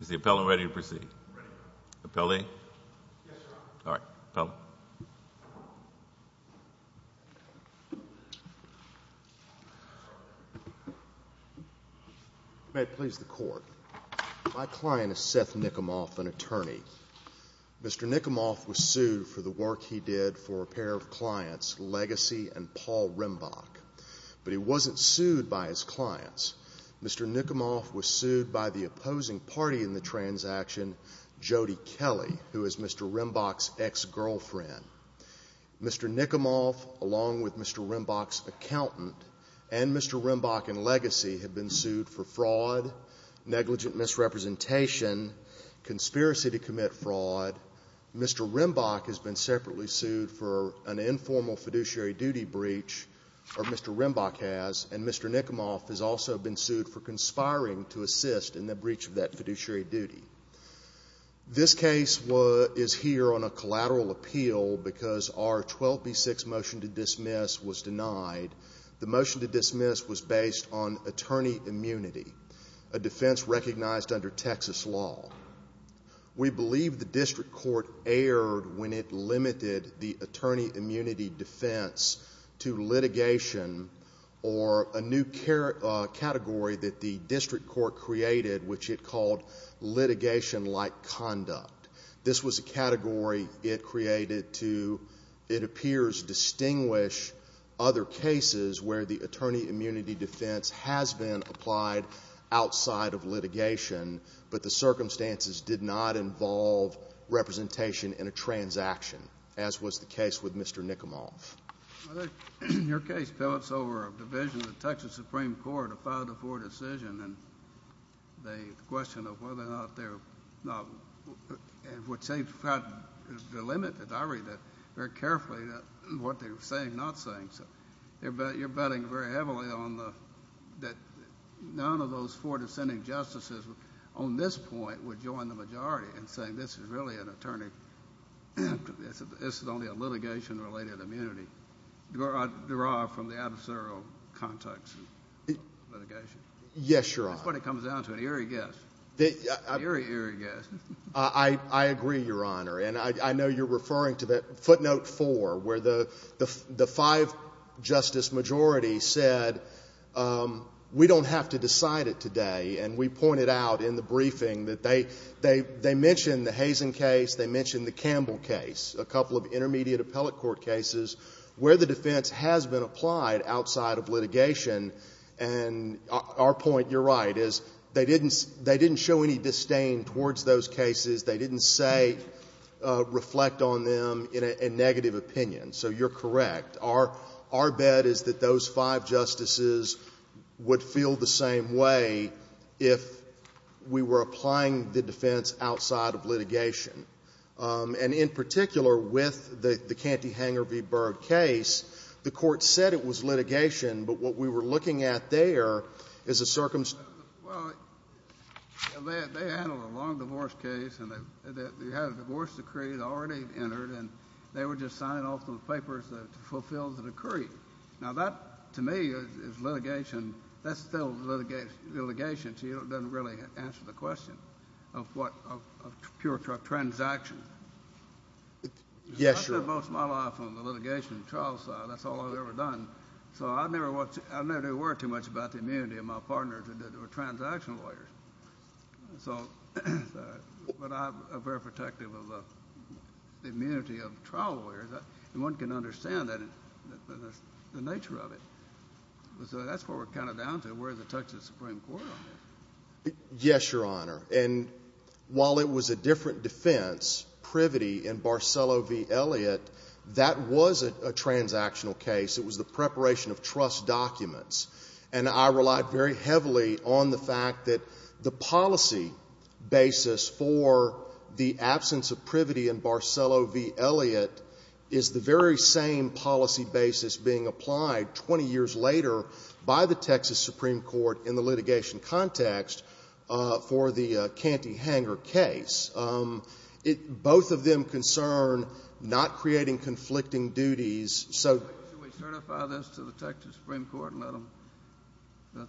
Is the appellant ready to proceed? Ready. Appellee? Yes, Your Honor. Appellant. May it please the Court. My client is Seth Nicomoff, an attorney. Mr. Nicomoff was sued for the work he did for a pair of clients, Legacy and Paul Rembach. But he wasn't sued by his clients. Mr. Nicomoff was sued by the opposing party in the transaction, Jodie Kelly, who is Mr. Rembach's ex-girlfriend. Mr. Nicomoff, along with Mr. Rembach's accountant and Mr. Rembach and Legacy, have been sued for fraud, negligent misrepresentation, conspiracy to commit fraud. Mr. Rembach has been separately sued for an informal fiduciary duty breach, or Mr. Rembach has, and Mr. Nicomoff has also been sued for conspiring to assist in the breach of that fiduciary duty. This case is here on a collateral appeal because our 12B6 motion to dismiss was denied. The motion to dismiss was based on attorney immunity, a defense recognized under Texas law. We believe the district court erred when it limited the attorney immunity defense to litigation or a new category that the district court created, which it called litigation-like conduct. This was a category it created to, it appears, distinguish other cases where the attorney immunity defense has been applied outside of litigation, but the circumstances did not involve representation in a transaction, as was the case with Mr. Nicomoff. Your case pales over a division of the Texas Supreme Court, a 5-4 decision, and the question of whether or not they're not, which they've got the limit, and I read that very carefully, what they're saying, not saying. You're betting very heavily that none of those four dissenting justices on this point would join the majority in saying this is really an attorney, this is only a litigation-related immunity, derived from the adversarial context of litigation. Yes, Your Honor. That's what it comes down to, an eerie guess, an eerie, eerie guess. I agree, Your Honor. And I know you're referring to the footnote 4, where the five-justice majority said we don't have to decide it today, and we pointed out in the briefing that they mentioned the Hazen case, they mentioned the Campbell case, a couple of intermediate appellate court cases where the defense has been applied outside of litigation. And our point, Your Honor, is they didn't show any disdain towards those cases. They didn't, say, reflect on them in a negative opinion. So you're correct. Our bet is that those five justices would feel the same way if we were applying the defense outside of litigation. And in particular, with the Canty-Hanger v. Byrd case, the Court said it was litigation, but what we were looking at there is a circumstance. Well, they handled a long divorce case, and they had a divorce decree already entered, and they were just signing off on the papers to fulfill the decree. Now, that, to me, is litigation. That's still litigation to you. It doesn't really answer the question of pure transaction. Yes, Your Honor. I spent most of my life on the litigation and trial side. That's all I've ever done. So I never do worry too much about the immunity of my partners who are transactional lawyers. But I'm very protective of the immunity of trial lawyers. And one can understand the nature of it. So that's what we're kind of down to. Where does it touch the Supreme Court on that? Yes, Your Honor. And while it was a different defense, Privety and Barcelo v. Elliott, that was a transactional case. It was the preparation of trust documents. And I relied very heavily on the fact that the policy basis for the absence of Privety and Barcelo v. Elliott is the very same policy basis being applied 20 years later by the Texas Supreme Court in the litigation context for the Canty-Hanger case. Both of them concern not creating conflicting duties. Should we certify this to the Texas Supreme Court and let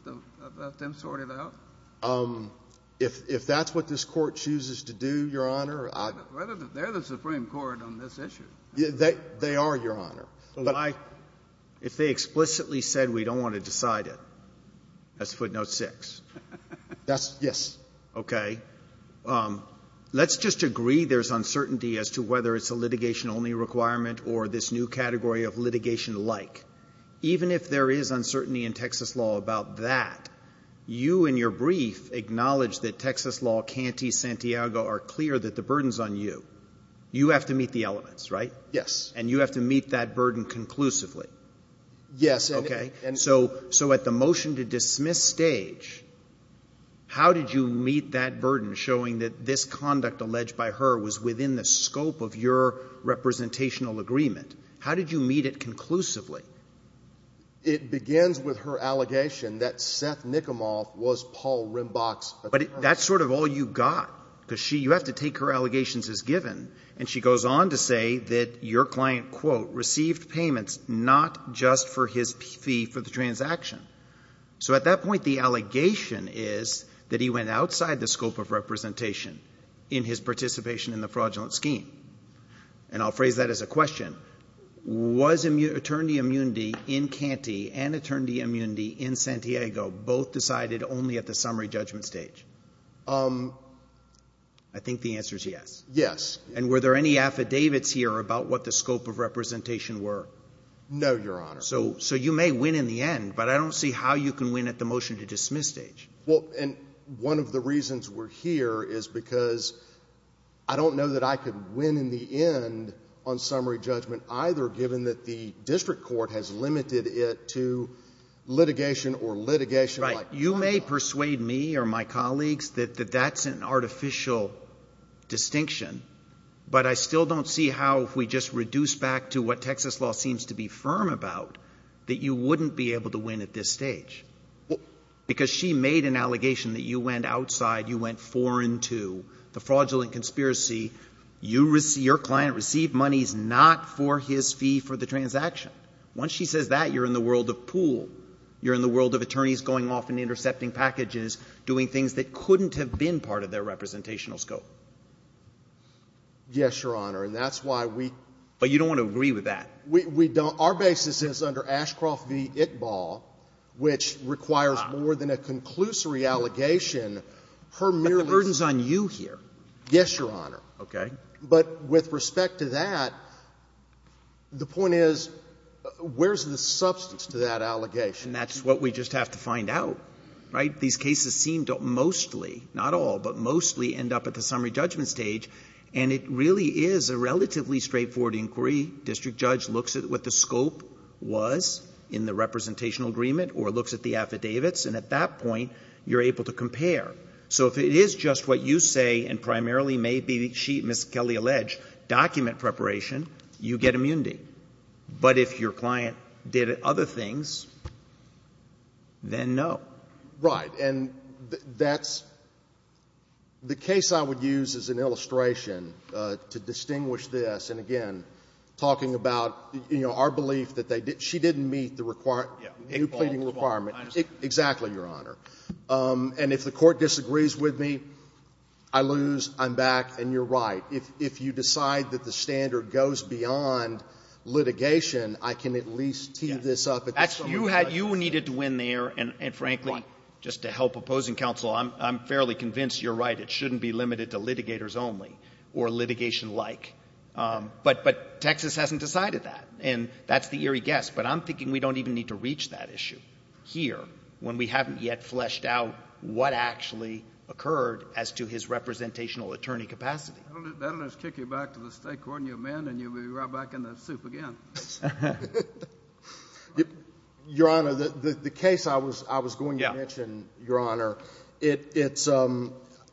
them sort it out? If that's what this Court chooses to do, Your Honor, I don't know. They're the Supreme Court on this issue. They are, Your Honor. If they explicitly said we don't want to decide it, that's footnote 6. That's yes. Okay. Let's just agree there's uncertainty as to whether it's a litigation-only requirement or this new category of litigation-like. Even if there is uncertainty in Texas law about that, you in your brief acknowledge that Texas law, Canty, Santiago are clear that the burden's on you. You have to meet the elements, right? Yes. And you have to meet that burden conclusively. Yes. Okay. So at the motion-to-dismiss stage, how did you meet that burden showing that this conduct alleged by her was within the scope of your representational agreement? How did you meet it conclusively? It begins with her allegation that Seth Nicomoff was Paul Rimbach's attorney. But that's sort of all you got because you have to take her allegations as given. And she goes on to say that your client, quote, received payments not just for his fee for the transaction. So at that point, the allegation is that he went outside the scope of representation in his participation in the fraudulent scheme. And I'll phrase that as a question. Was attorney immunity in Canty and attorney immunity in Santiago both decided only at the summary judgment stage? I think the answer is yes. Yes. And were there any affidavits here about what the scope of representation were? No, Your Honor. So you may win in the end, but I don't see how you can win at the motion-to-dismiss stage. Well, and one of the reasons we're here is because I don't know that I could win in the end on summary judgment either given that the district court has limited it to litigation or litigation. Right. You may persuade me or my colleagues that that's an artificial distinction, but I still don't see how if we just reduce back to what Texas law seems to be firm about that you wouldn't be able to win at this stage because she made an allegation that you went outside, you went foreign to the fraudulent conspiracy. Your client received monies not for his fee for the transaction. Once she says that, you're in the world of pool. You're in the world of attorneys going off and intercepting packages, doing things that couldn't have been part of their representational scope. Yes, Your Honor. And that's why we — But you don't want to agree with that. We don't. Our basis is under Ashcroft v. Itball, which requires more than a conclusory allegation. But the burden is on you here. Yes, Your Honor. Okay. But with respect to that, the point is, where's the substance to that allegation? And that's what we just have to find out, right? These cases seem to mostly, not all, but mostly end up at the summary judgment stage, and it really is a relatively straightforward inquiry. District judge looks at what the scope was in the representational agreement or looks at the affidavits, and at that point, you're able to compare. So if it is just what you say and primarily may be, as Ms. Kelley alleged, document preparation, you get immunity. But if your client did other things, then no. Right. And that's — the case I would use as an illustration to distinguish this, and again, talking about, you know, our belief that they — she didn't meet the required — the new pleading requirement. Exactly, Your Honor. And if the court disagrees with me, I lose. I'm back. And you're right. If you decide that the standard goes beyond litigation, I can at least tee this up. Actually, you had — you needed to win there, and frankly, just to help opposing counsel, I'm fairly convinced you're right. It shouldn't be limited to litigators only or litigation-like. But Texas hasn't decided that, and that's the eerie guess. But I'm thinking we don't even need to reach that issue here when we haven't yet fleshed out what actually occurred as to his representational attorney capacity. That'll just kick you back to the state court and you're banned and you'll be right back in the soup again. Your Honor, the case I was going to mention, Your Honor, it's —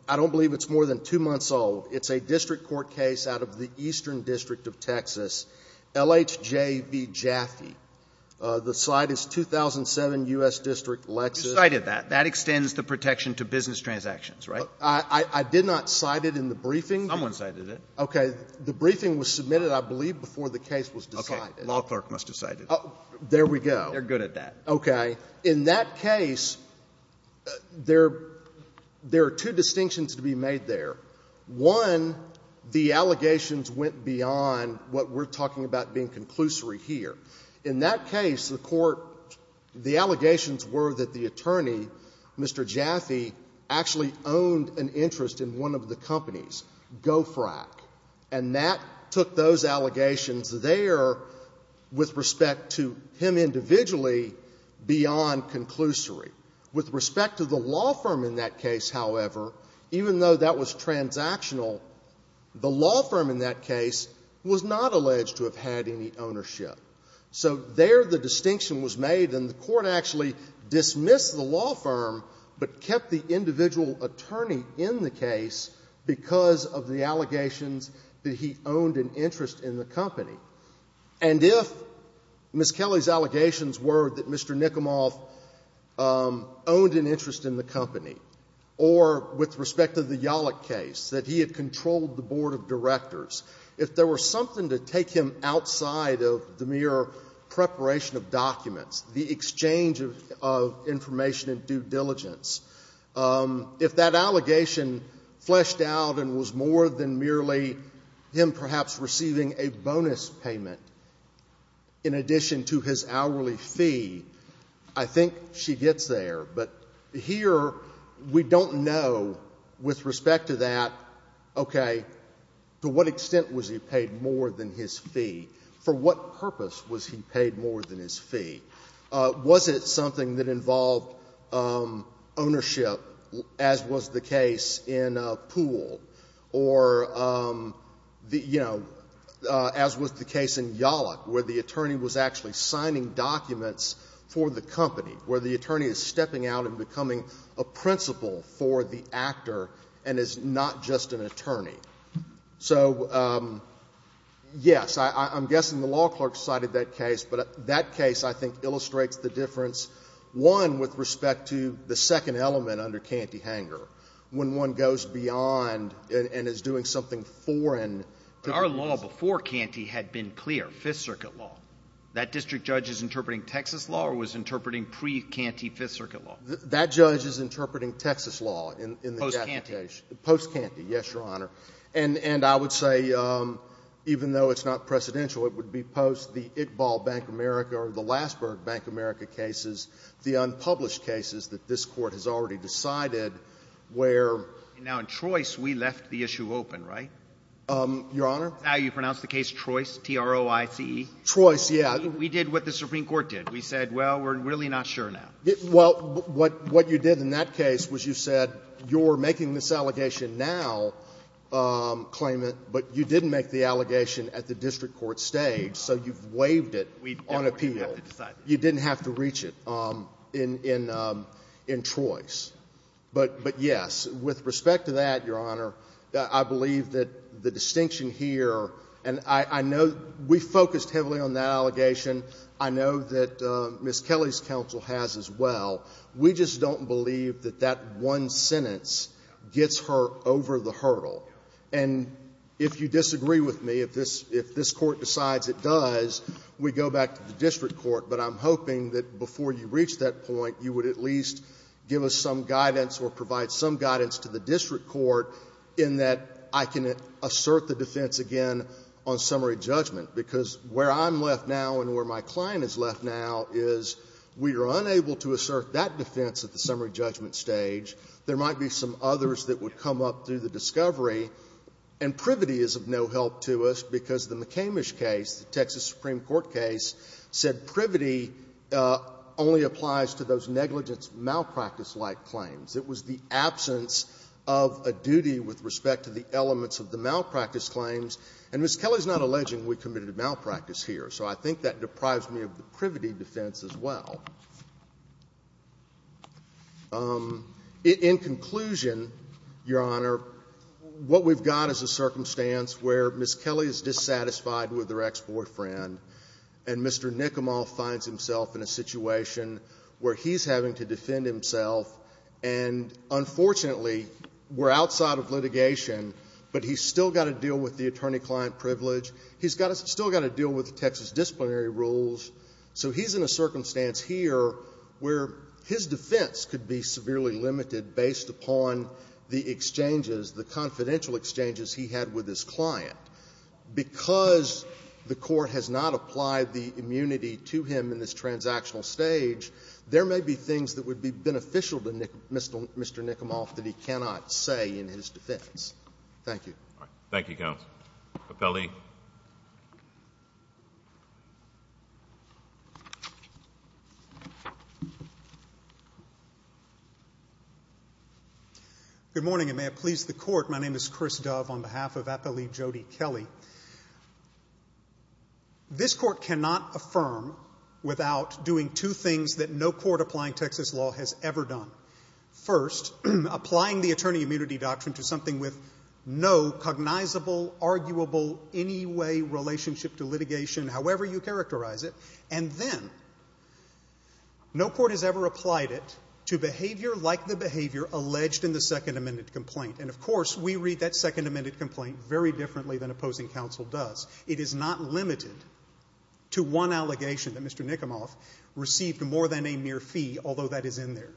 I don't believe it's more than two months old. It's a district court case out of the Eastern District of Texas, LHJB Jaffe. The site is 2007 U.S. District, Lexus. You cited that. That extends the protection to business transactions, right? I did not cite it in the briefing. Someone cited it. Okay. The briefing was submitted, I believe, before the case was decided. Okay. Law clerk must have cited it. There we go. They're good at that. Okay. Now, in that case, there are two distinctions to be made there. One, the allegations went beyond what we're talking about being conclusory here. In that case, the court — the allegations were that the attorney, Mr. Jaffe, actually owned an interest in one of the companies, GoFrac. And that took those allegations there, with respect to him individually, beyond conclusory. With respect to the law firm in that case, however, even though that was transactional, the law firm in that case was not alleged to have had any ownership. So there the distinction was made, and the court actually dismissed the law firm but kept the individual attorney in the case because of the allegations that he owned an interest in the company. And if Ms. Kelly's allegations were that Mr. Nicomoff owned an interest in the company or, with respect to the Yalek case, that he had controlled the board of directors, if there were something to take him outside of the mere preparation of documents, the exchange of information and due diligence, if that allegation fleshed out and was more than merely him perhaps receiving a bonus payment in addition to his hourly fee, I think she gets there. But here we don't know, with respect to that, okay, to what extent was he paid more than his fee? For what purpose was he paid more than his fee? Was it something that involved ownership, as was the case in Poole, or, you know, as was the case in Yalek, where the attorney was actually signing documents for the company, where the attorney is stepping out and becoming a principal for the actor and is not just an attorney? So, yes, I'm guessing the law clerk cited that case, but that case, I think, illustrates the difference, one, with respect to the second element under Canty-Hanger, when one goes beyond and is doing something foreign. But our law before Canty had been clear, Fifth Circuit law. That district judge is interpreting Texas law or was interpreting pre-Canty Fifth Circuit law? That judge is interpreting Texas law in that case. Post-Canty. Post-Canty, yes, Your Honor. And I would say, even though it's not precedential, it would be post the Iqbal Bank America or the Lassberg Bank America cases, the unpublished cases that this Court has already decided where — Now, in Trois, we left the issue open, right? Your Honor? Now you pronounce the case Trois, T-R-O-I-C-E? Trois, yeah. We did what the Supreme Court did. We said, well, we're really not sure now. Well, what you did in that case was you said you're making this allegation now, claimant, but you didn't make the allegation at the district court stage, so you've waived it on appeal. We definitely didn't have to decide that. You didn't have to reach it in Trois. But, yes, with respect to that, Your Honor, I believe that the distinction here, and I know we focused heavily on that allegation. I know that Ms. Kelly's counsel has as well. We just don't believe that that one sentence gets her over the hurdle. And if you disagree with me, if this Court decides it does, we go back to the district court. But I'm hoping that before you reach that point, you would at least give us some guidance or provide some guidance to the district court in that I can assert the defense again on summary judgment. Because where I'm left now and where my client is left now is we are unable to assert that defense at the summary judgment stage. There might be some others that would come up through the discovery. And privity is of no help to us, because the McCamish case, the Texas Supreme Court case, said privity only applies to those negligence malpractice-like claims. It was the absence of a duty with respect to the elements of the malpractice claims. And Ms. Kelly's not alleging we committed a malpractice here. So I think that deprives me of the privity defense as well. In conclusion, Your Honor, what we've got is a circumstance where Ms. Kelly is dissatisfied with her ex-boyfriend, and Mr. Nicomel finds himself in a situation where he's having to defend himself. And unfortunately, we're outside of litigation, but he's still got to deal with the attorney-client privilege. He's still got to deal with the Texas disciplinary rules. So he's in a circumstance here where his defense could be severely limited based upon the exchanges, the confidential exchanges he had with his client. Because the Court has not applied the immunity to him in this transactional stage, there may be things that would be beneficial to Mr. Nicomel that he cannot say in his defense. Thank you. Thank you, Counsel. Appellee. Good morning, and may it please the Court. My name is Chris Dove on behalf of Appellee Jody Kelly. This Court cannot affirm without doing two things that no court applying Texas law has ever done. First, applying the attorney immunity doctrine to something with no cognizable, arguable, any way relationship to litigation, however you characterize it, and then no court has ever applied it to behavior like the behavior alleged in the Second Amendment complaint. And of course, we read that Second Amendment complaint very differently than opposing counsel does. It is not limited to one allegation that Mr. Nicomel received more than a mere fee, although that is in there.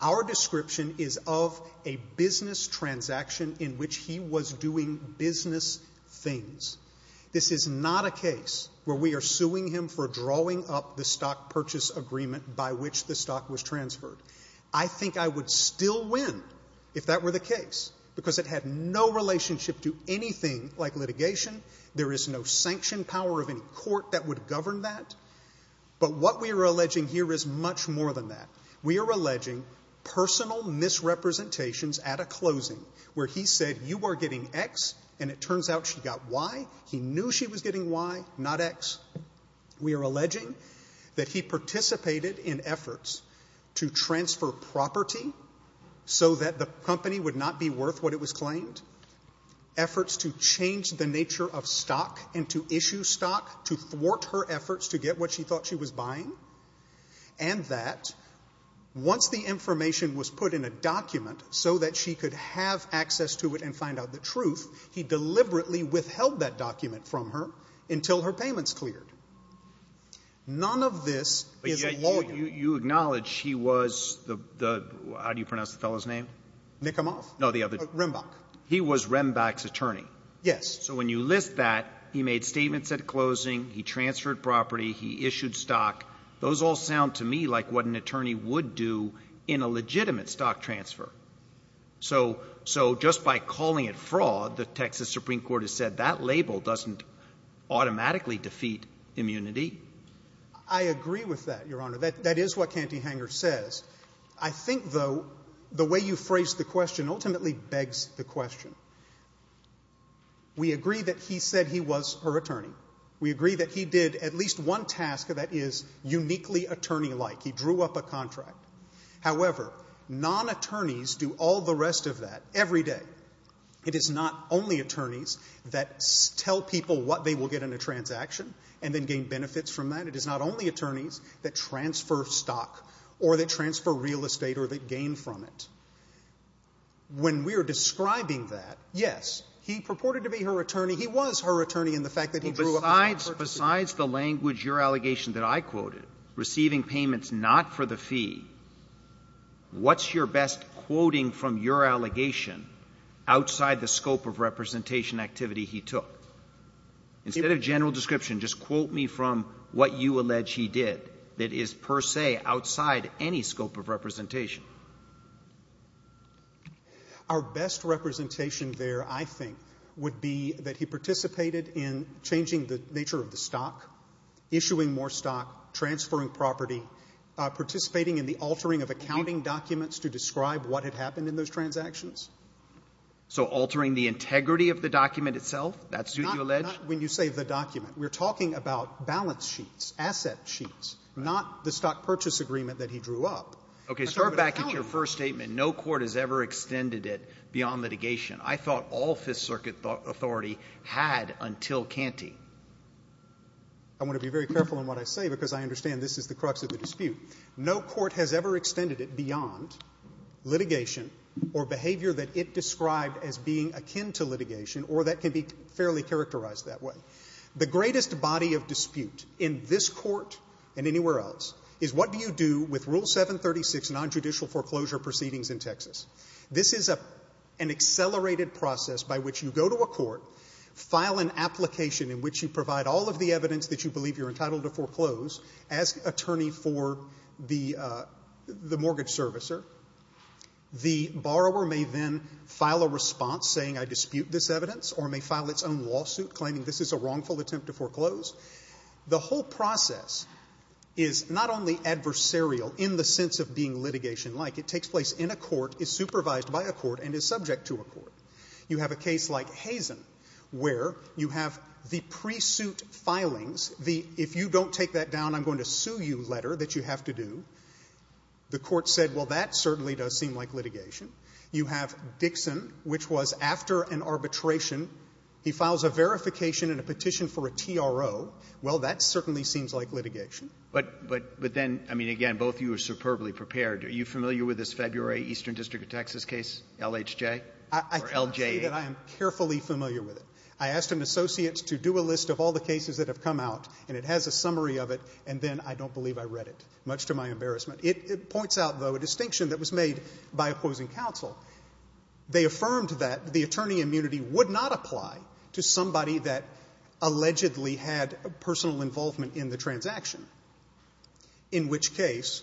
Our description is of a business transaction in which he was doing business things. This is not a case where we are suing him for drawing up the stock purchase agreement by which the stock was transferred. I think I would still win if that were the case, because it had no relationship to anything like litigation. There is no sanction power of any court that would govern that. But what we are alleging here is much more than that. We are alleging personal misrepresentations at a closing where he said you are getting X and it turns out she got Y. He knew she was getting Y, not X. We are alleging that he participated in efforts to transfer property so that the company would not be worth what it was claimed, efforts to change the nature of stock into issue stock, to thwart her efforts to get what she thought she was buying, and that once the information was put in a document so that she could have access to it and find out the truth, he deliberately withheld that document from her until her payments cleared. None of this is a lawyer. But yet you acknowledge he was the — how do you pronounce the fellow's name? Nicomel. No, the other. Rembach. He was Rembach's attorney. Yes. So when you list that, he made statements at closing, he transferred property, he issued stock. Those all sound to me like what an attorney would do in a legitimate stock transfer. So just by calling it fraud, the Texas Supreme Court has said that label doesn't automatically defeat immunity. I agree with that, Your Honor. That is what Cantyhanger says. I think, though, the way you phrased the question ultimately begs the question. We agree that he said he was her attorney. We agree that he did at least one task that is uniquely attorney-like. He drew up a contract. However, non-attorneys do all the rest of that every day. It is not only attorneys that tell people what they will get in a transaction and then gain benefits from that. It is not only attorneys that transfer stock or that transfer real estate or that gain from it. When we are describing that, yes, he purported to be her attorney. He was her attorney in the fact that he drew up a contract. Besides the language, your allegation that I quoted, receiving payments not for the fee, what's your best quoting from your allegation outside the scope of representation activity he took? Instead of general description, just quote me from what you allege Our best representation there, I think, would be that he participated in changing the nature of the stock, issuing more stock, transferring property, participating in the altering of accounting documents to describe what had happened in those transactions. So altering the integrity of the document itself, that's what you allege? Not when you say the document. We are talking about balance sheets, asset sheets, not the stock purchase agreement that he drew up. Okay. Start back at your first statement. No court has ever extended it beyond litigation. I thought all Fifth Circuit authority had until Canty. I want to be very careful in what I say because I understand this is the crux of the dispute. No court has ever extended it beyond litigation or behavior that it described as being akin to litigation or that can be fairly characterized that way. The greatest body of dispute in this court and anywhere else is what do you do with Rule 736 nonjudicial foreclosure proceedings in Texas? This is an accelerated process by which you go to a court, file an application in which you provide all of the evidence that you believe you're entitled to foreclose, ask attorney for the mortgage servicer. The borrower may then file a response saying I dispute this evidence or may file its own lawsuit claiming this is a wrongful attempt to foreclose. The whole process is not only adversarial in the sense of being litigation like. It takes place in a court, is supervised by a court, and is subject to a court. You have a case like Hazen where you have the pre-suit filings, the if you don't take that down I'm going to sue you letter that you have to do. The court said, well, that certainly does seem like litigation. You have Dixon which was after an arbitration. He files a verification and a petition for a TRO. Well, that certainly seems like litigation. But then, I mean, again, both of you are superbly prepared. Are you familiar with this February Eastern District of Texas case, LHJ or LJA? I can say that I am carefully familiar with it. I asked an associate to do a list of all the cases that have come out, and it has a summary of it, and then I don't believe I read it, much to my embarrassment. It points out, though, a distinction that was made by opposing counsel. They affirmed that the attorney immunity would not apply to somebody that allegedly had personal involvement in the transaction, in which case,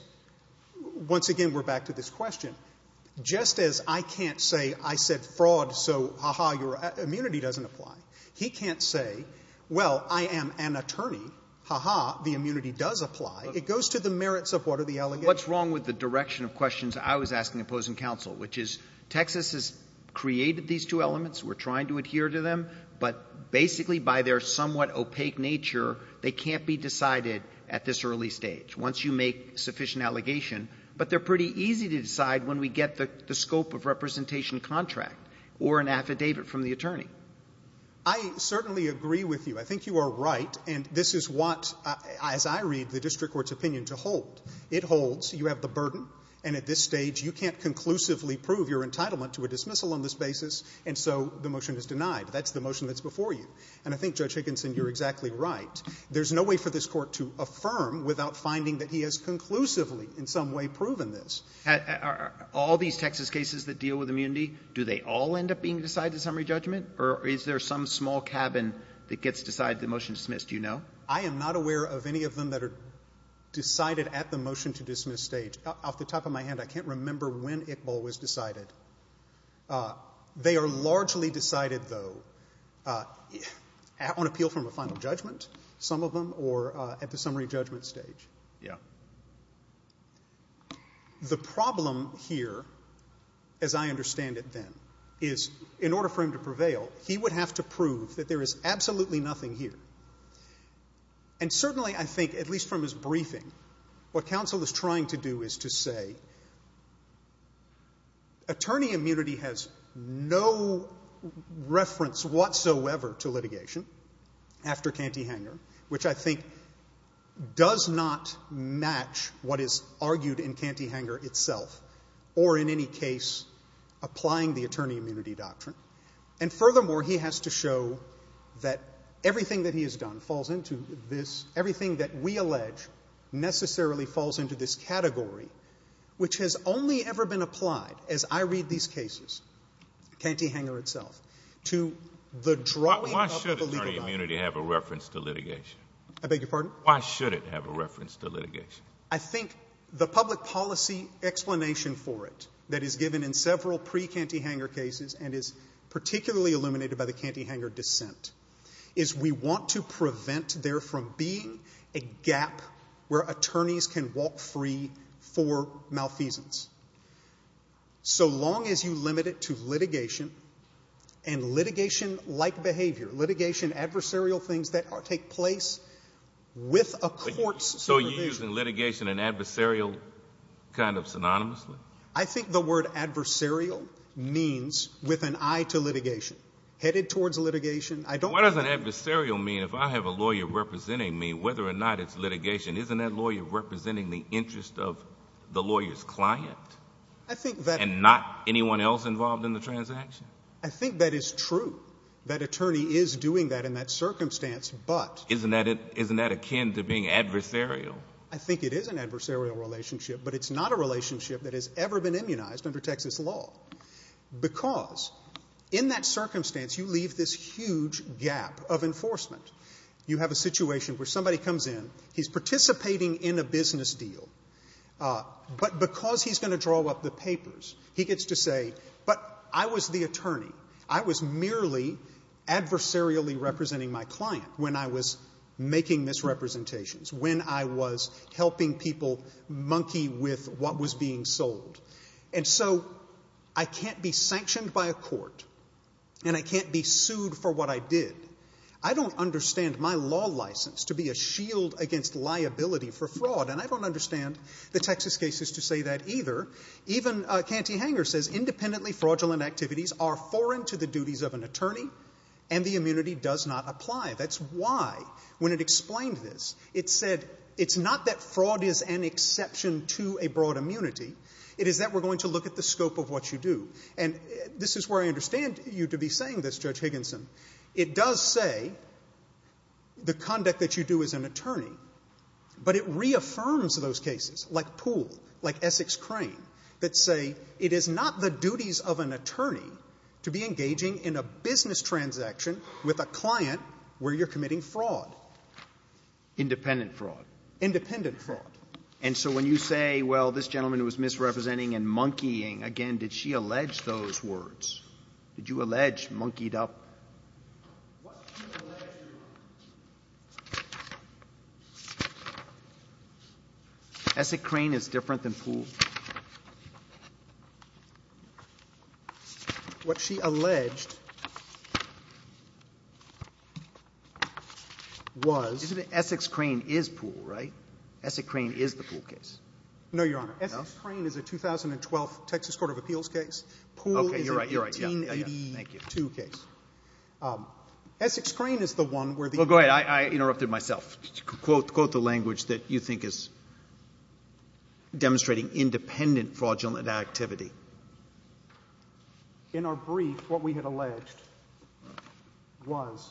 once again we're back to this question, just as I can't say I said fraud, so, ha-ha, your immunity doesn't apply, he can't say, well, I am an attorney, ha-ha, the immunity does apply. It goes to the merits of what are the allegations. What's wrong with the direction of questions I was asking opposing counsel, which is Texas has created these two elements, we're trying to adhere to them, but basically by their somewhat opaque nature, they can't be decided at this early stage, once you make sufficient allegation. But they're pretty easy to decide when we get the scope of representation contract or an affidavit from the attorney. I certainly agree with you. I think you are right, and this is what, as I read the district court's opinion to hold, it holds, you have the burden, and at this stage, you can't conclusively prove your entitlement to a dismissal on this basis, and so the motion is denied. That's the motion that's before you. And I think, Judge Higginson, you're exactly right. There's no way for this Court to affirm without finding that he has conclusively in some way proven this. Are all these Texas cases that deal with immunity, do they all end up being decided in summary judgment, or is there some small cabin that gets decided, the motion is dismissed, do you know? I am not aware of any of them that are decided at the motion to dismiss stage. Off the top of my hand, I can't remember when Iqbal was decided. They are largely decided, though, on appeal from a final judgment, some of them, or at the summary judgment stage. Yeah. The problem here, as I understand it then, is in order for him to prevail, he would have to prove that there is absolutely nothing here. And certainly, I think, at least from his briefing, what counsel is trying to do is to say, attorney immunity has no reference whatsoever to litigation after Cantyhanger, which I think does not match what is argued in Cantyhanger itself, or in any case applying the attorney immunity doctrine. And furthermore, he has to show that everything that he has done falls into this, everything that we allege necessarily falls into this category, which has only ever been applied, as I read these cases, Cantyhanger itself, to the drawing of the legal doctrine. Why should attorney immunity have a reference to litigation? I beg your pardon? Why should it have a reference to litigation? I think the public policy explanation for it that is given in several pre-Cantyhanger cases and is particularly illuminated by the Cantyhanger dissent is we want to prevent there from being a gap where attorneys can walk free for malfeasance, so long as you limit it to litigation and litigation-like behavior, litigation adversarial things that take place with a court's supervision. So you're using litigation and adversarial kind of synonymously? I think the word adversarial means with an eye to litigation, headed towards litigation. What does an adversarial mean? If I have a lawyer representing me, whether or not it's litigation, isn't that lawyer representing the interest of the lawyer's client and not anyone else involved in the transaction? I think that is true, that attorney is doing that in that circumstance, but... Isn't that akin to being adversarial? I think it is an adversarial relationship, but it's not a relationship that has ever been immunized under Texas law, because in that circumstance you leave this huge gap of enforcement. You have a situation where somebody comes in, he's participating in a business deal, but because he's going to draw up the papers, he gets to say, but I was the attorney. I was merely adversarially representing my client when I was making misrepresentations, when I was helping people monkey with what was being sold. And so I can't be sanctioned by a court, and I can't be sued for what I did. I don't understand my law license to be a shield against liability for fraud, and I don't understand the Texas cases to say that either. Even Canty Hanger says independently fraudulent activities are foreign to the duties of an attorney, and the immunity does not apply. That's why, when it explained this, it said it's not that fraud is an exception to a broad immunity. It is that we're going to look at the scope of what you do. And this is where I understand you to be saying this, Judge Higginson. It does say the conduct that you do as an attorney, but it reaffirms those cases, like Poole, like Essex Crane, that say it is not the duties of an attorney to be where you're committing fraud. Independent fraud. Independent fraud. And so when you say, well, this gentleman was misrepresenting and monkeying, again, did she allege those words? Did you allege monkeyed up? What she alleged. Essex Crane is different than Poole. What she alleged was. Isn't it Essex Crane is Poole, right? Essex Crane is the Poole case. No, Your Honor. Essex Crane is a 2012 Texas court of appeals case. Poole is a 1882 case. Okay. You're right. You're right. Thank you. Essex Crane is the one where the. Well, go ahead. I interrupted myself. Quote the language that you think is demonstrating independent fraudulent activity. In our brief, what we had alleged was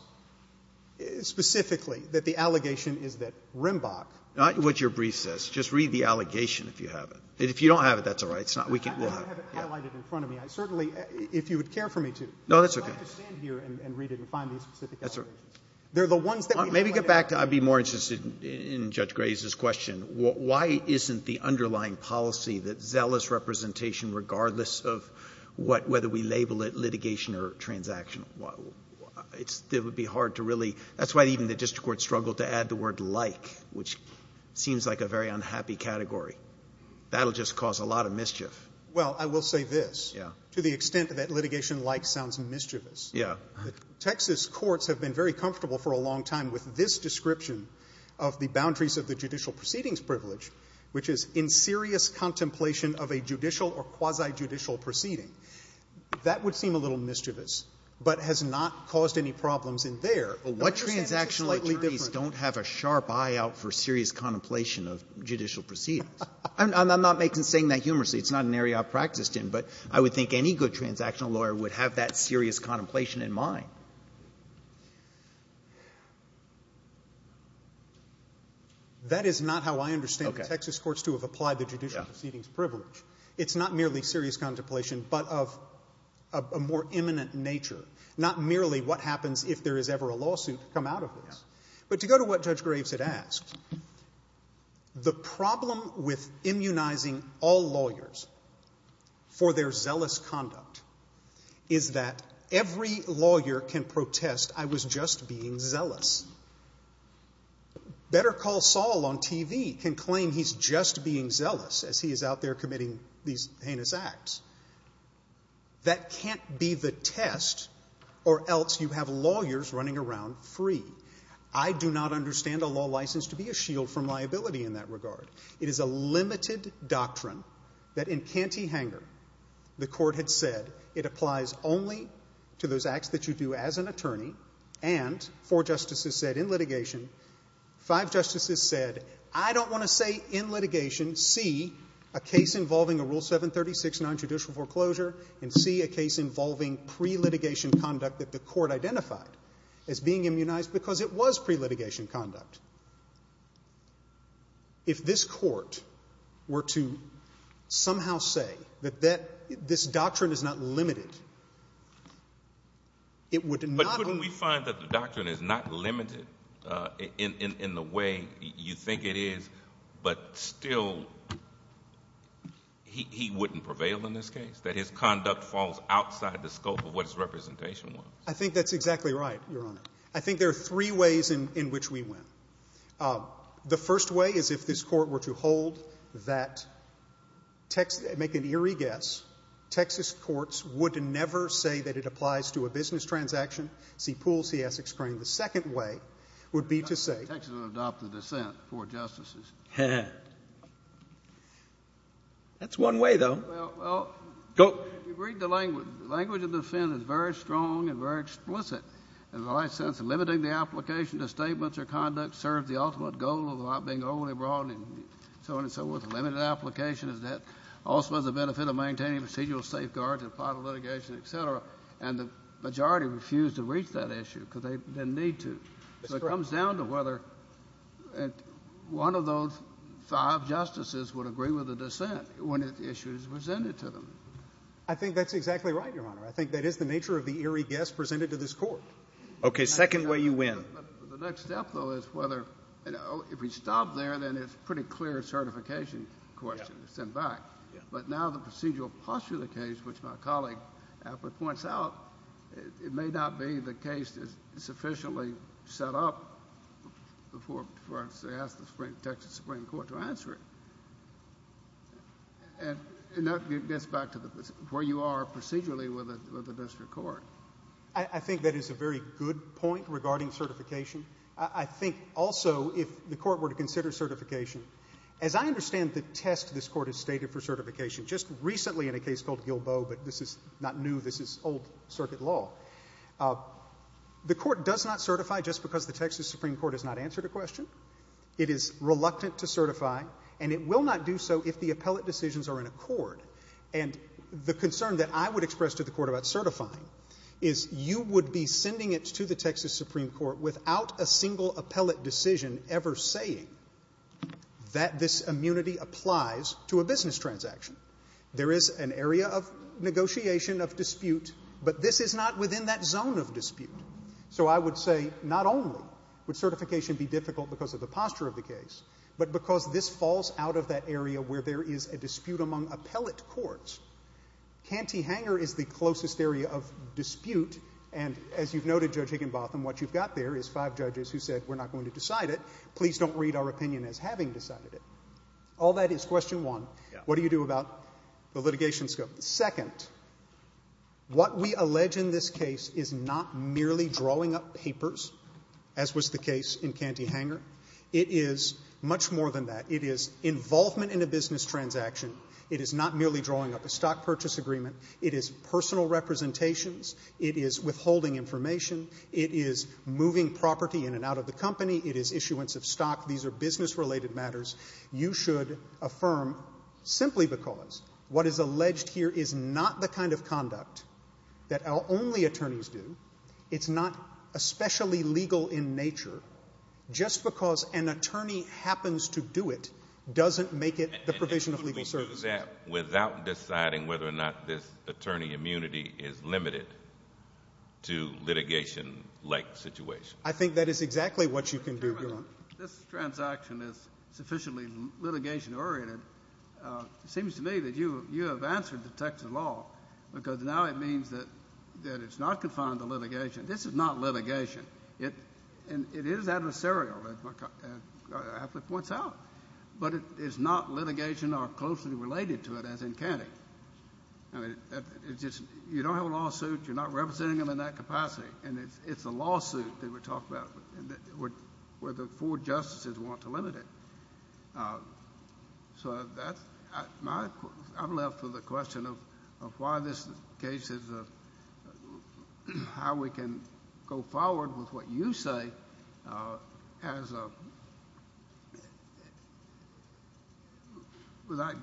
specifically that the allegation is that Rimbach. Not what your brief says. Just read the allegation, if you have it. If you don't have it, that's all right. It's not. I have it highlighted in front of me. I certainly, if you would care for me to. No, that's okay. I would like to stand here and read it and find these specific allegations. That's all right. They're the ones that. Maybe get back. I'd be more interested in Judge Gray's question. Why isn't the underlying policy that zealous representation regardless of what, whether we label it litigation or transaction. It would be hard to really. That's why even the district court struggled to add the word like, which seems like a very unhappy category. That will just cause a lot of mischief. Well, I will say this. Yeah. To the extent that litigation like sounds mischievous. Yeah. The Texas courts have been very comfortable for a long time with this description of the boundaries of the judicial proceedings privilege, which is inserious contemplation of a judicial or quasi-judicial proceeding. That would seem a little mischievous, but has not caused any problems in there. But why is it slightly different? What transactional attorneys don't have a sharp eye out for serious contemplation of judicial proceedings? I'm not making, saying that humorously. It's not an area I've practiced in. But I would think any good transactional lawyer would have that serious contemplation in mind. That is not how I understand the Texas courts to have applied the judicial proceedings privilege. It's not merely serious contemplation, but of a more imminent nature, not merely what happens if there is ever a lawsuit to come out of this. But to go to what Judge Graves had asked, the problem with immunizing all lawyers for their zealous conduct is that every lawyer can protest, I was just being zealous. Better Call Saul on TV can claim he's just being zealous as he is out there committing these heinous acts. That can't be the test or else you have lawyers running around free. I do not understand a law license to be a shield from liability in that regard. It is a limited doctrine that in Canty Hanger the court had said it applies only to those acts that you do as an attorney and four justices said in litigation, five justices said, I don't want to say in litigation, C, a case involving a Rule 736 nonjudicial foreclosure and C, a case involving pre-litigation conduct that the court identified as being immunized because it was pre-litigation conduct. If this court were to somehow say that this doctrine is not limited, it would not But couldn't we find that the doctrine is not limited in the way you think it is, but still he wouldn't prevail in this case? That his conduct falls outside the scope of what his representation was? I think that's exactly right, Your Honor. I think there are three ways in which we win. The first way is if this court were to hold that, make an eerie guess, Texas courts would never say that it applies to a business transaction, C, Poole, C, Essex, Crane. The second way would be to say Texas would adopt the dissent, four justices. That's one way, though. Well, if you read the language, the language of dissent is very strong and very explicit. In the last sentence, limiting the application to statements or conduct serves the ultimate goal of the law being overly broad and so on and so forth. Limited application is that also has the benefit of maintaining procedural safeguards in applied litigation, et cetera. And the majority refused to reach that issue because they didn't need to. That's correct. So it comes down to whether one of those five justices would agree with the dissent when the issue is presented to them. I think that's exactly right, Your Honor. I think that is the nature of the eerie guess presented to this Court. Okay. Second way, you win. The next step, though, is whether, you know, if we stop there, then it's a pretty clear certification question to send back. Yeah. But now the procedural posture of the case, which my colleague aptly points out, it may not be the case that's sufficiently set up for us to ask the Texas Supreme Court to answer it. And that gets back to where you are procedurally with the district court. I think that is a very good point regarding certification. I think also if the Court were to consider certification, as I understand the test this Court has stated for certification, just recently in a case called Gilbo, but this is not new. This is old circuit law. The Court does not certify just because the Texas Supreme Court has not answered a question. It is reluctant to certify, and it will not do so if the appellate decisions are in accord. And the concern that I would express to the Court about certifying is you would be sending it to the Texas Supreme Court without a single appellate decision ever saying that this immunity applies to a business transaction. There is an area of negotiation, of dispute, but this is not within that zone of dispute. So I would say not only would certification be difficult because of the posture of the case, but because this falls out of that area where there is a dispute among appellate courts. Canty-Hanger is the closest area of dispute, and as you've noted, Judge Higginbotham, what you've got there is five judges who said we're not going to decide it. Please don't read our opinion as having decided it. All that is question one. What do you do about the litigation scope? Second, what we allege in this case is not merely drawing up papers, as was the case in Canty-Hanger. It is much more than that. It is involvement in a business transaction. It is not merely drawing up a stock purchase agreement. It is personal representations. It is withholding information. It is moving property in and out of the company. It is issuance of stock. These are business-related matters. You should affirm simply because what is alleged here is not the kind of conduct that our only attorneys do. It's not especially legal in nature. Just because an attorney happens to do it doesn't make it the provision of legal services. And you can do that without deciding whether or not this attorney immunity is limited to litigation-like situations. I think that is exactly what you can do, Your Honor. This transaction is sufficiently litigation-oriented. It seems to me that you have answered the text of the law because now it means that it's not confined to litigation. This is not litigation. It is adversarial, as my colleague points out. But it is not litigation or closely related to it, as in Canty. You don't have a lawsuit. You're not representing them in that capacity. That's right. It's a lawsuit that we're talking about where the four justices want to limit it. I'm left with a question of why this case is, how we can go forward with what you say without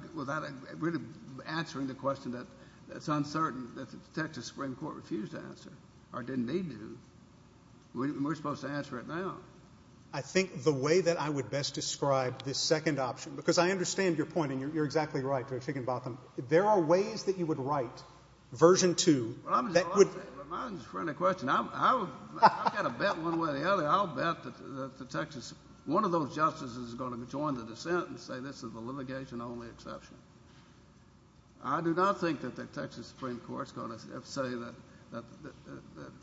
really answering the question that's uncertain that the Texas Supreme Court refused to answer or didn't need to. We're supposed to answer it now. I think the way that I would best describe this second option, because I understand your point and you're exactly right, Judge Higginbotham. There are ways that you would write Version 2 that would... Well, I'm just trying to question. I've got to bet one way or the other. I'll bet that the Texas... One of those justices is going to join the dissent and say this is a litigation-only exception. I do not think that the Texas Supreme Court's going to say that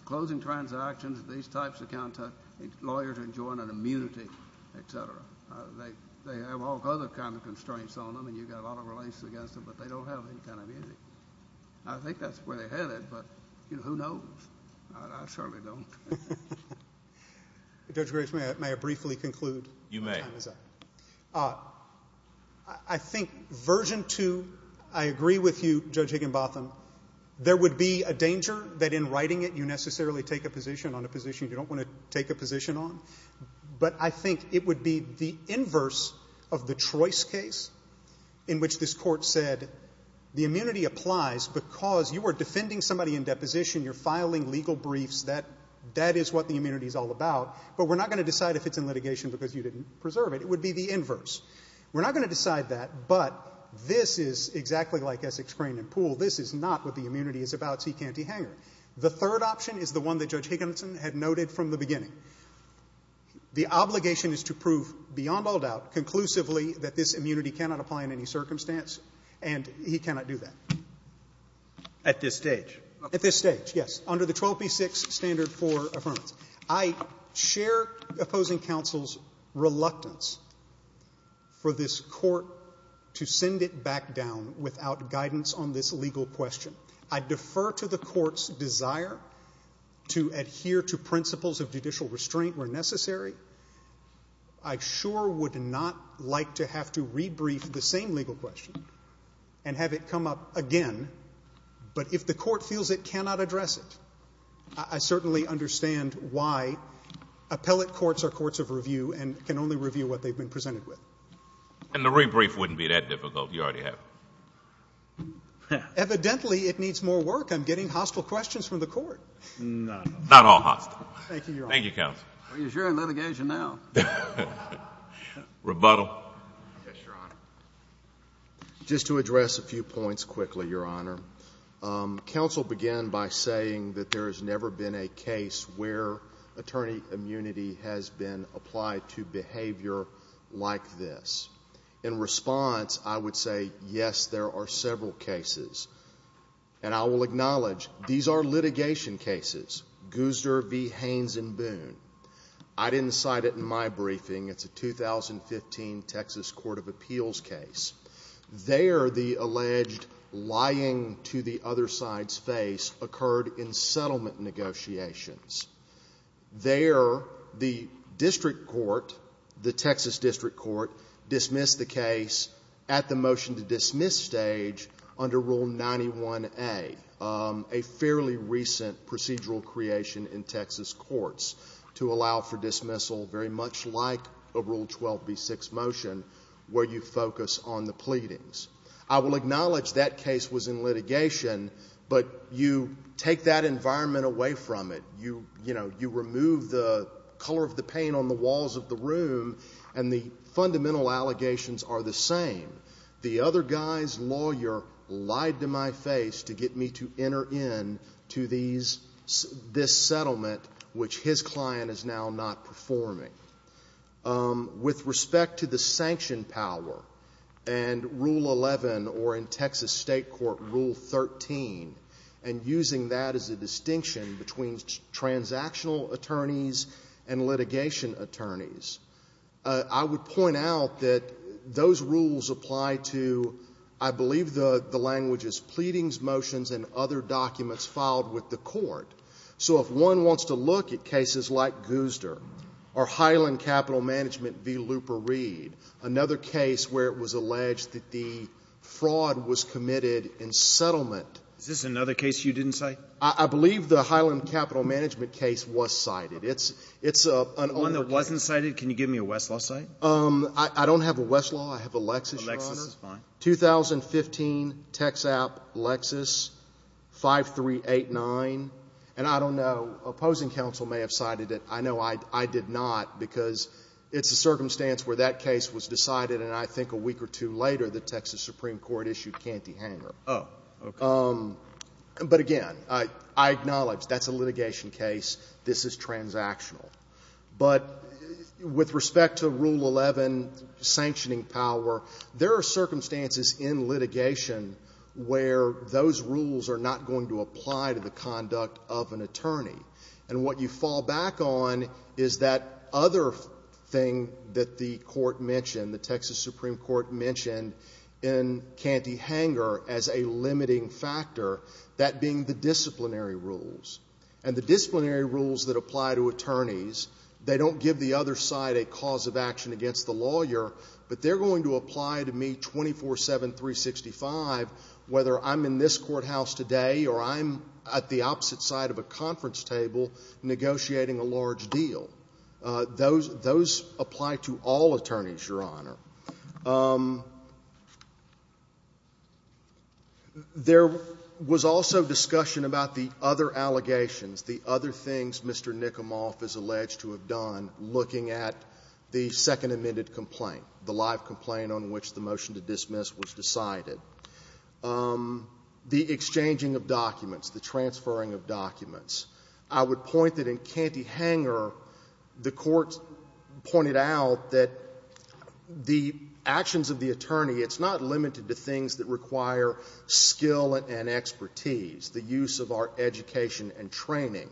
closing transactions, these types of contracts, lawyers are enjoying an immunity, et cetera. They have all other kinds of constraints on them and you've got a lot of relations against them, but they don't have any kind of immunity. I think that's where they're headed, but who knows? I certainly don't. Judge Griggs, may I briefly conclude? You may. I think Version 2, I agree with you, Judge Higginbotham, there would be a danger that in writing it you necessarily take a position on a position you don't want to take a position on, but I think it would be the inverse of the Trois case in which this court said the immunity applies because you were defending somebody in deposition, you're filing legal briefs, that is what the immunity is all about, but we're not going to decide if it's in order to serve it. It would be the inverse. We're not going to decide that, but this is exactly like Essex Crane and Pool. This is not what the immunity is about. See Canty Hanger. The third option is the one that Judge Higginbotham had noted from the beginning. The obligation is to prove beyond all doubt conclusively that this immunity cannot apply in any circumstance, and he cannot do that. At this stage? At this stage, yes. Under the 12b-6 standard for affirmance. I share opposing counsel's reluctance for this court to send it back down without guidance on this legal question. I defer to the court's desire to adhere to principles of judicial restraint where necessary. I sure would not like to have to rebrief the same legal question and have it come up again, but if the court feels it cannot address it, I certainly understand why appellate courts are courts of review and can only review what they've been presented with. And the rebrief wouldn't be that difficult. You already have it. Evidently, it needs more work. I'm getting hostile questions from the court. Not all hostile. Thank you, Your Honor. Thank you, counsel. Well, you're sharing litigation now. Rebuttal. Yes, Your Honor. Just to address a few points quickly, Your Honor. Counsel began by saying that there has never been a case where attorney immunity has been applied to behavior like this. In response, I would say, yes, there are several cases. And I will acknowledge these are litigation cases. Guzder v. Haines and Boone. I didn't cite it in my briefing. It's a 2015 Texas Court of Appeals case. There, the alleged lying to the other side's face occurred in settlement negotiations. There, the district court, the Texas district court, dismissed the case at the motion-to-dismiss stage under Rule 91A, a fairly recent procedural creation in Texas courts to allow for dismissal very much like a Rule 12b6 motion where you focus on the pleadings. I will acknowledge that case was in litigation, but you take that environment away from it. You remove the color of the paint on the walls of the room, and the fundamental allegations are the same. The other guy's lawyer lied to my face to get me to enter into this settlement, which his client is now not performing. With respect to the sanction power and Rule 11 or in Texas State Court Rule 13 and using that as a distinction between transactional attorneys and litigation attorneys, I would point out that those rules apply to, I believe the language is pleadings, motions, and other documents filed with the court. So if one wants to look at cases like Guzder or Highland Capital Management v. Luper-Reed, another case where it was alleged that the fraud was committed in settlement. Is this another case you didn't cite? I believe the Highland Capital Management case was cited. It's an older case. One that wasn't cited? Can you give me a Westlaw cite? I don't have a Westlaw. I have a Lexis, Your Honor. A Lexis is fine. 2015, TexApp, Lexis, 5389. And I don't know. Opposing counsel may have cited it. I know I did not because it's a circumstance where that case was decided, and I think a week or two later the Texas Supreme Court issued Canty-Hanger. Oh, okay. But, again, I acknowledge that's a litigation case. This is transactional. But with respect to Rule 11, sanctioning power, there are circumstances in litigation where those rules are not going to apply to the conduct of an attorney. And what you fall back on is that other thing that the court mentioned, the Texas Supreme Court mentioned in Canty-Hanger as a limiting factor, that being the disciplinary rules. And the disciplinary rules that apply to attorneys, they don't give the other side a cause of action against the lawyer, but they're going to apply to me 24-7, 365, whether I'm in this courthouse today or I'm at the opposite side of a conference table negotiating a large deal. Those apply to all attorneys, Your Honor. There was also discussion about the other allegations, the other things Mr. Nicomoff is alleged to have done looking at the second amended complaint, the live complaint on which the motion to dismiss was decided, the exchanging of documents, the transferring of documents. I would point that in Canty-Hanger, the court pointed out that the actions of the attorney, it's not limited to things that require skill and expertise, the use of our education and training.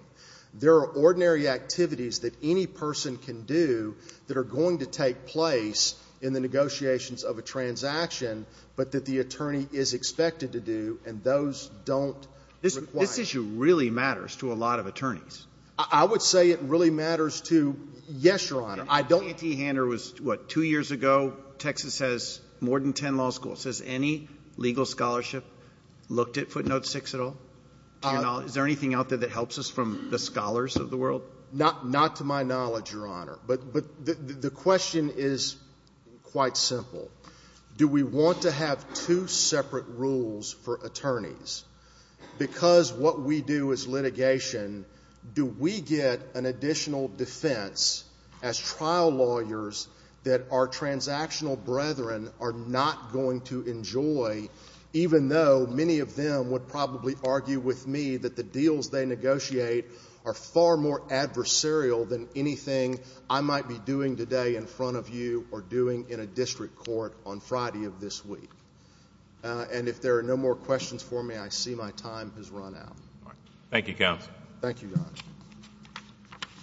There are ordinary activities that any person can do that are going to take place in the negotiations of a transaction, but that the attorney is expected to do, and those don't require it. This issue really matters to a lot of attorneys. I would say it really matters to, yes, Your Honor. Canty-Hanger was, what, two years ago? Texas has more than ten law schools. Has any legal scholarship looked at footnote six at all? Is there anything out there that helps us from the scholars of the world? Not to my knowledge, Your Honor, but the question is quite simple. Do we want to have two separate rules for attorneys because what we do is litigation do we get an additional defense as trial lawyers that our transactional brethren are not going to enjoy, even though many of them would probably argue with me that the deals they negotiate are far more adversarial than anything I might be doing today in front of you or doing in a district court on Friday of this week. And if there are no more questions for me, I see my time has run out. Thank you, counsel. Thank you, Your Honor.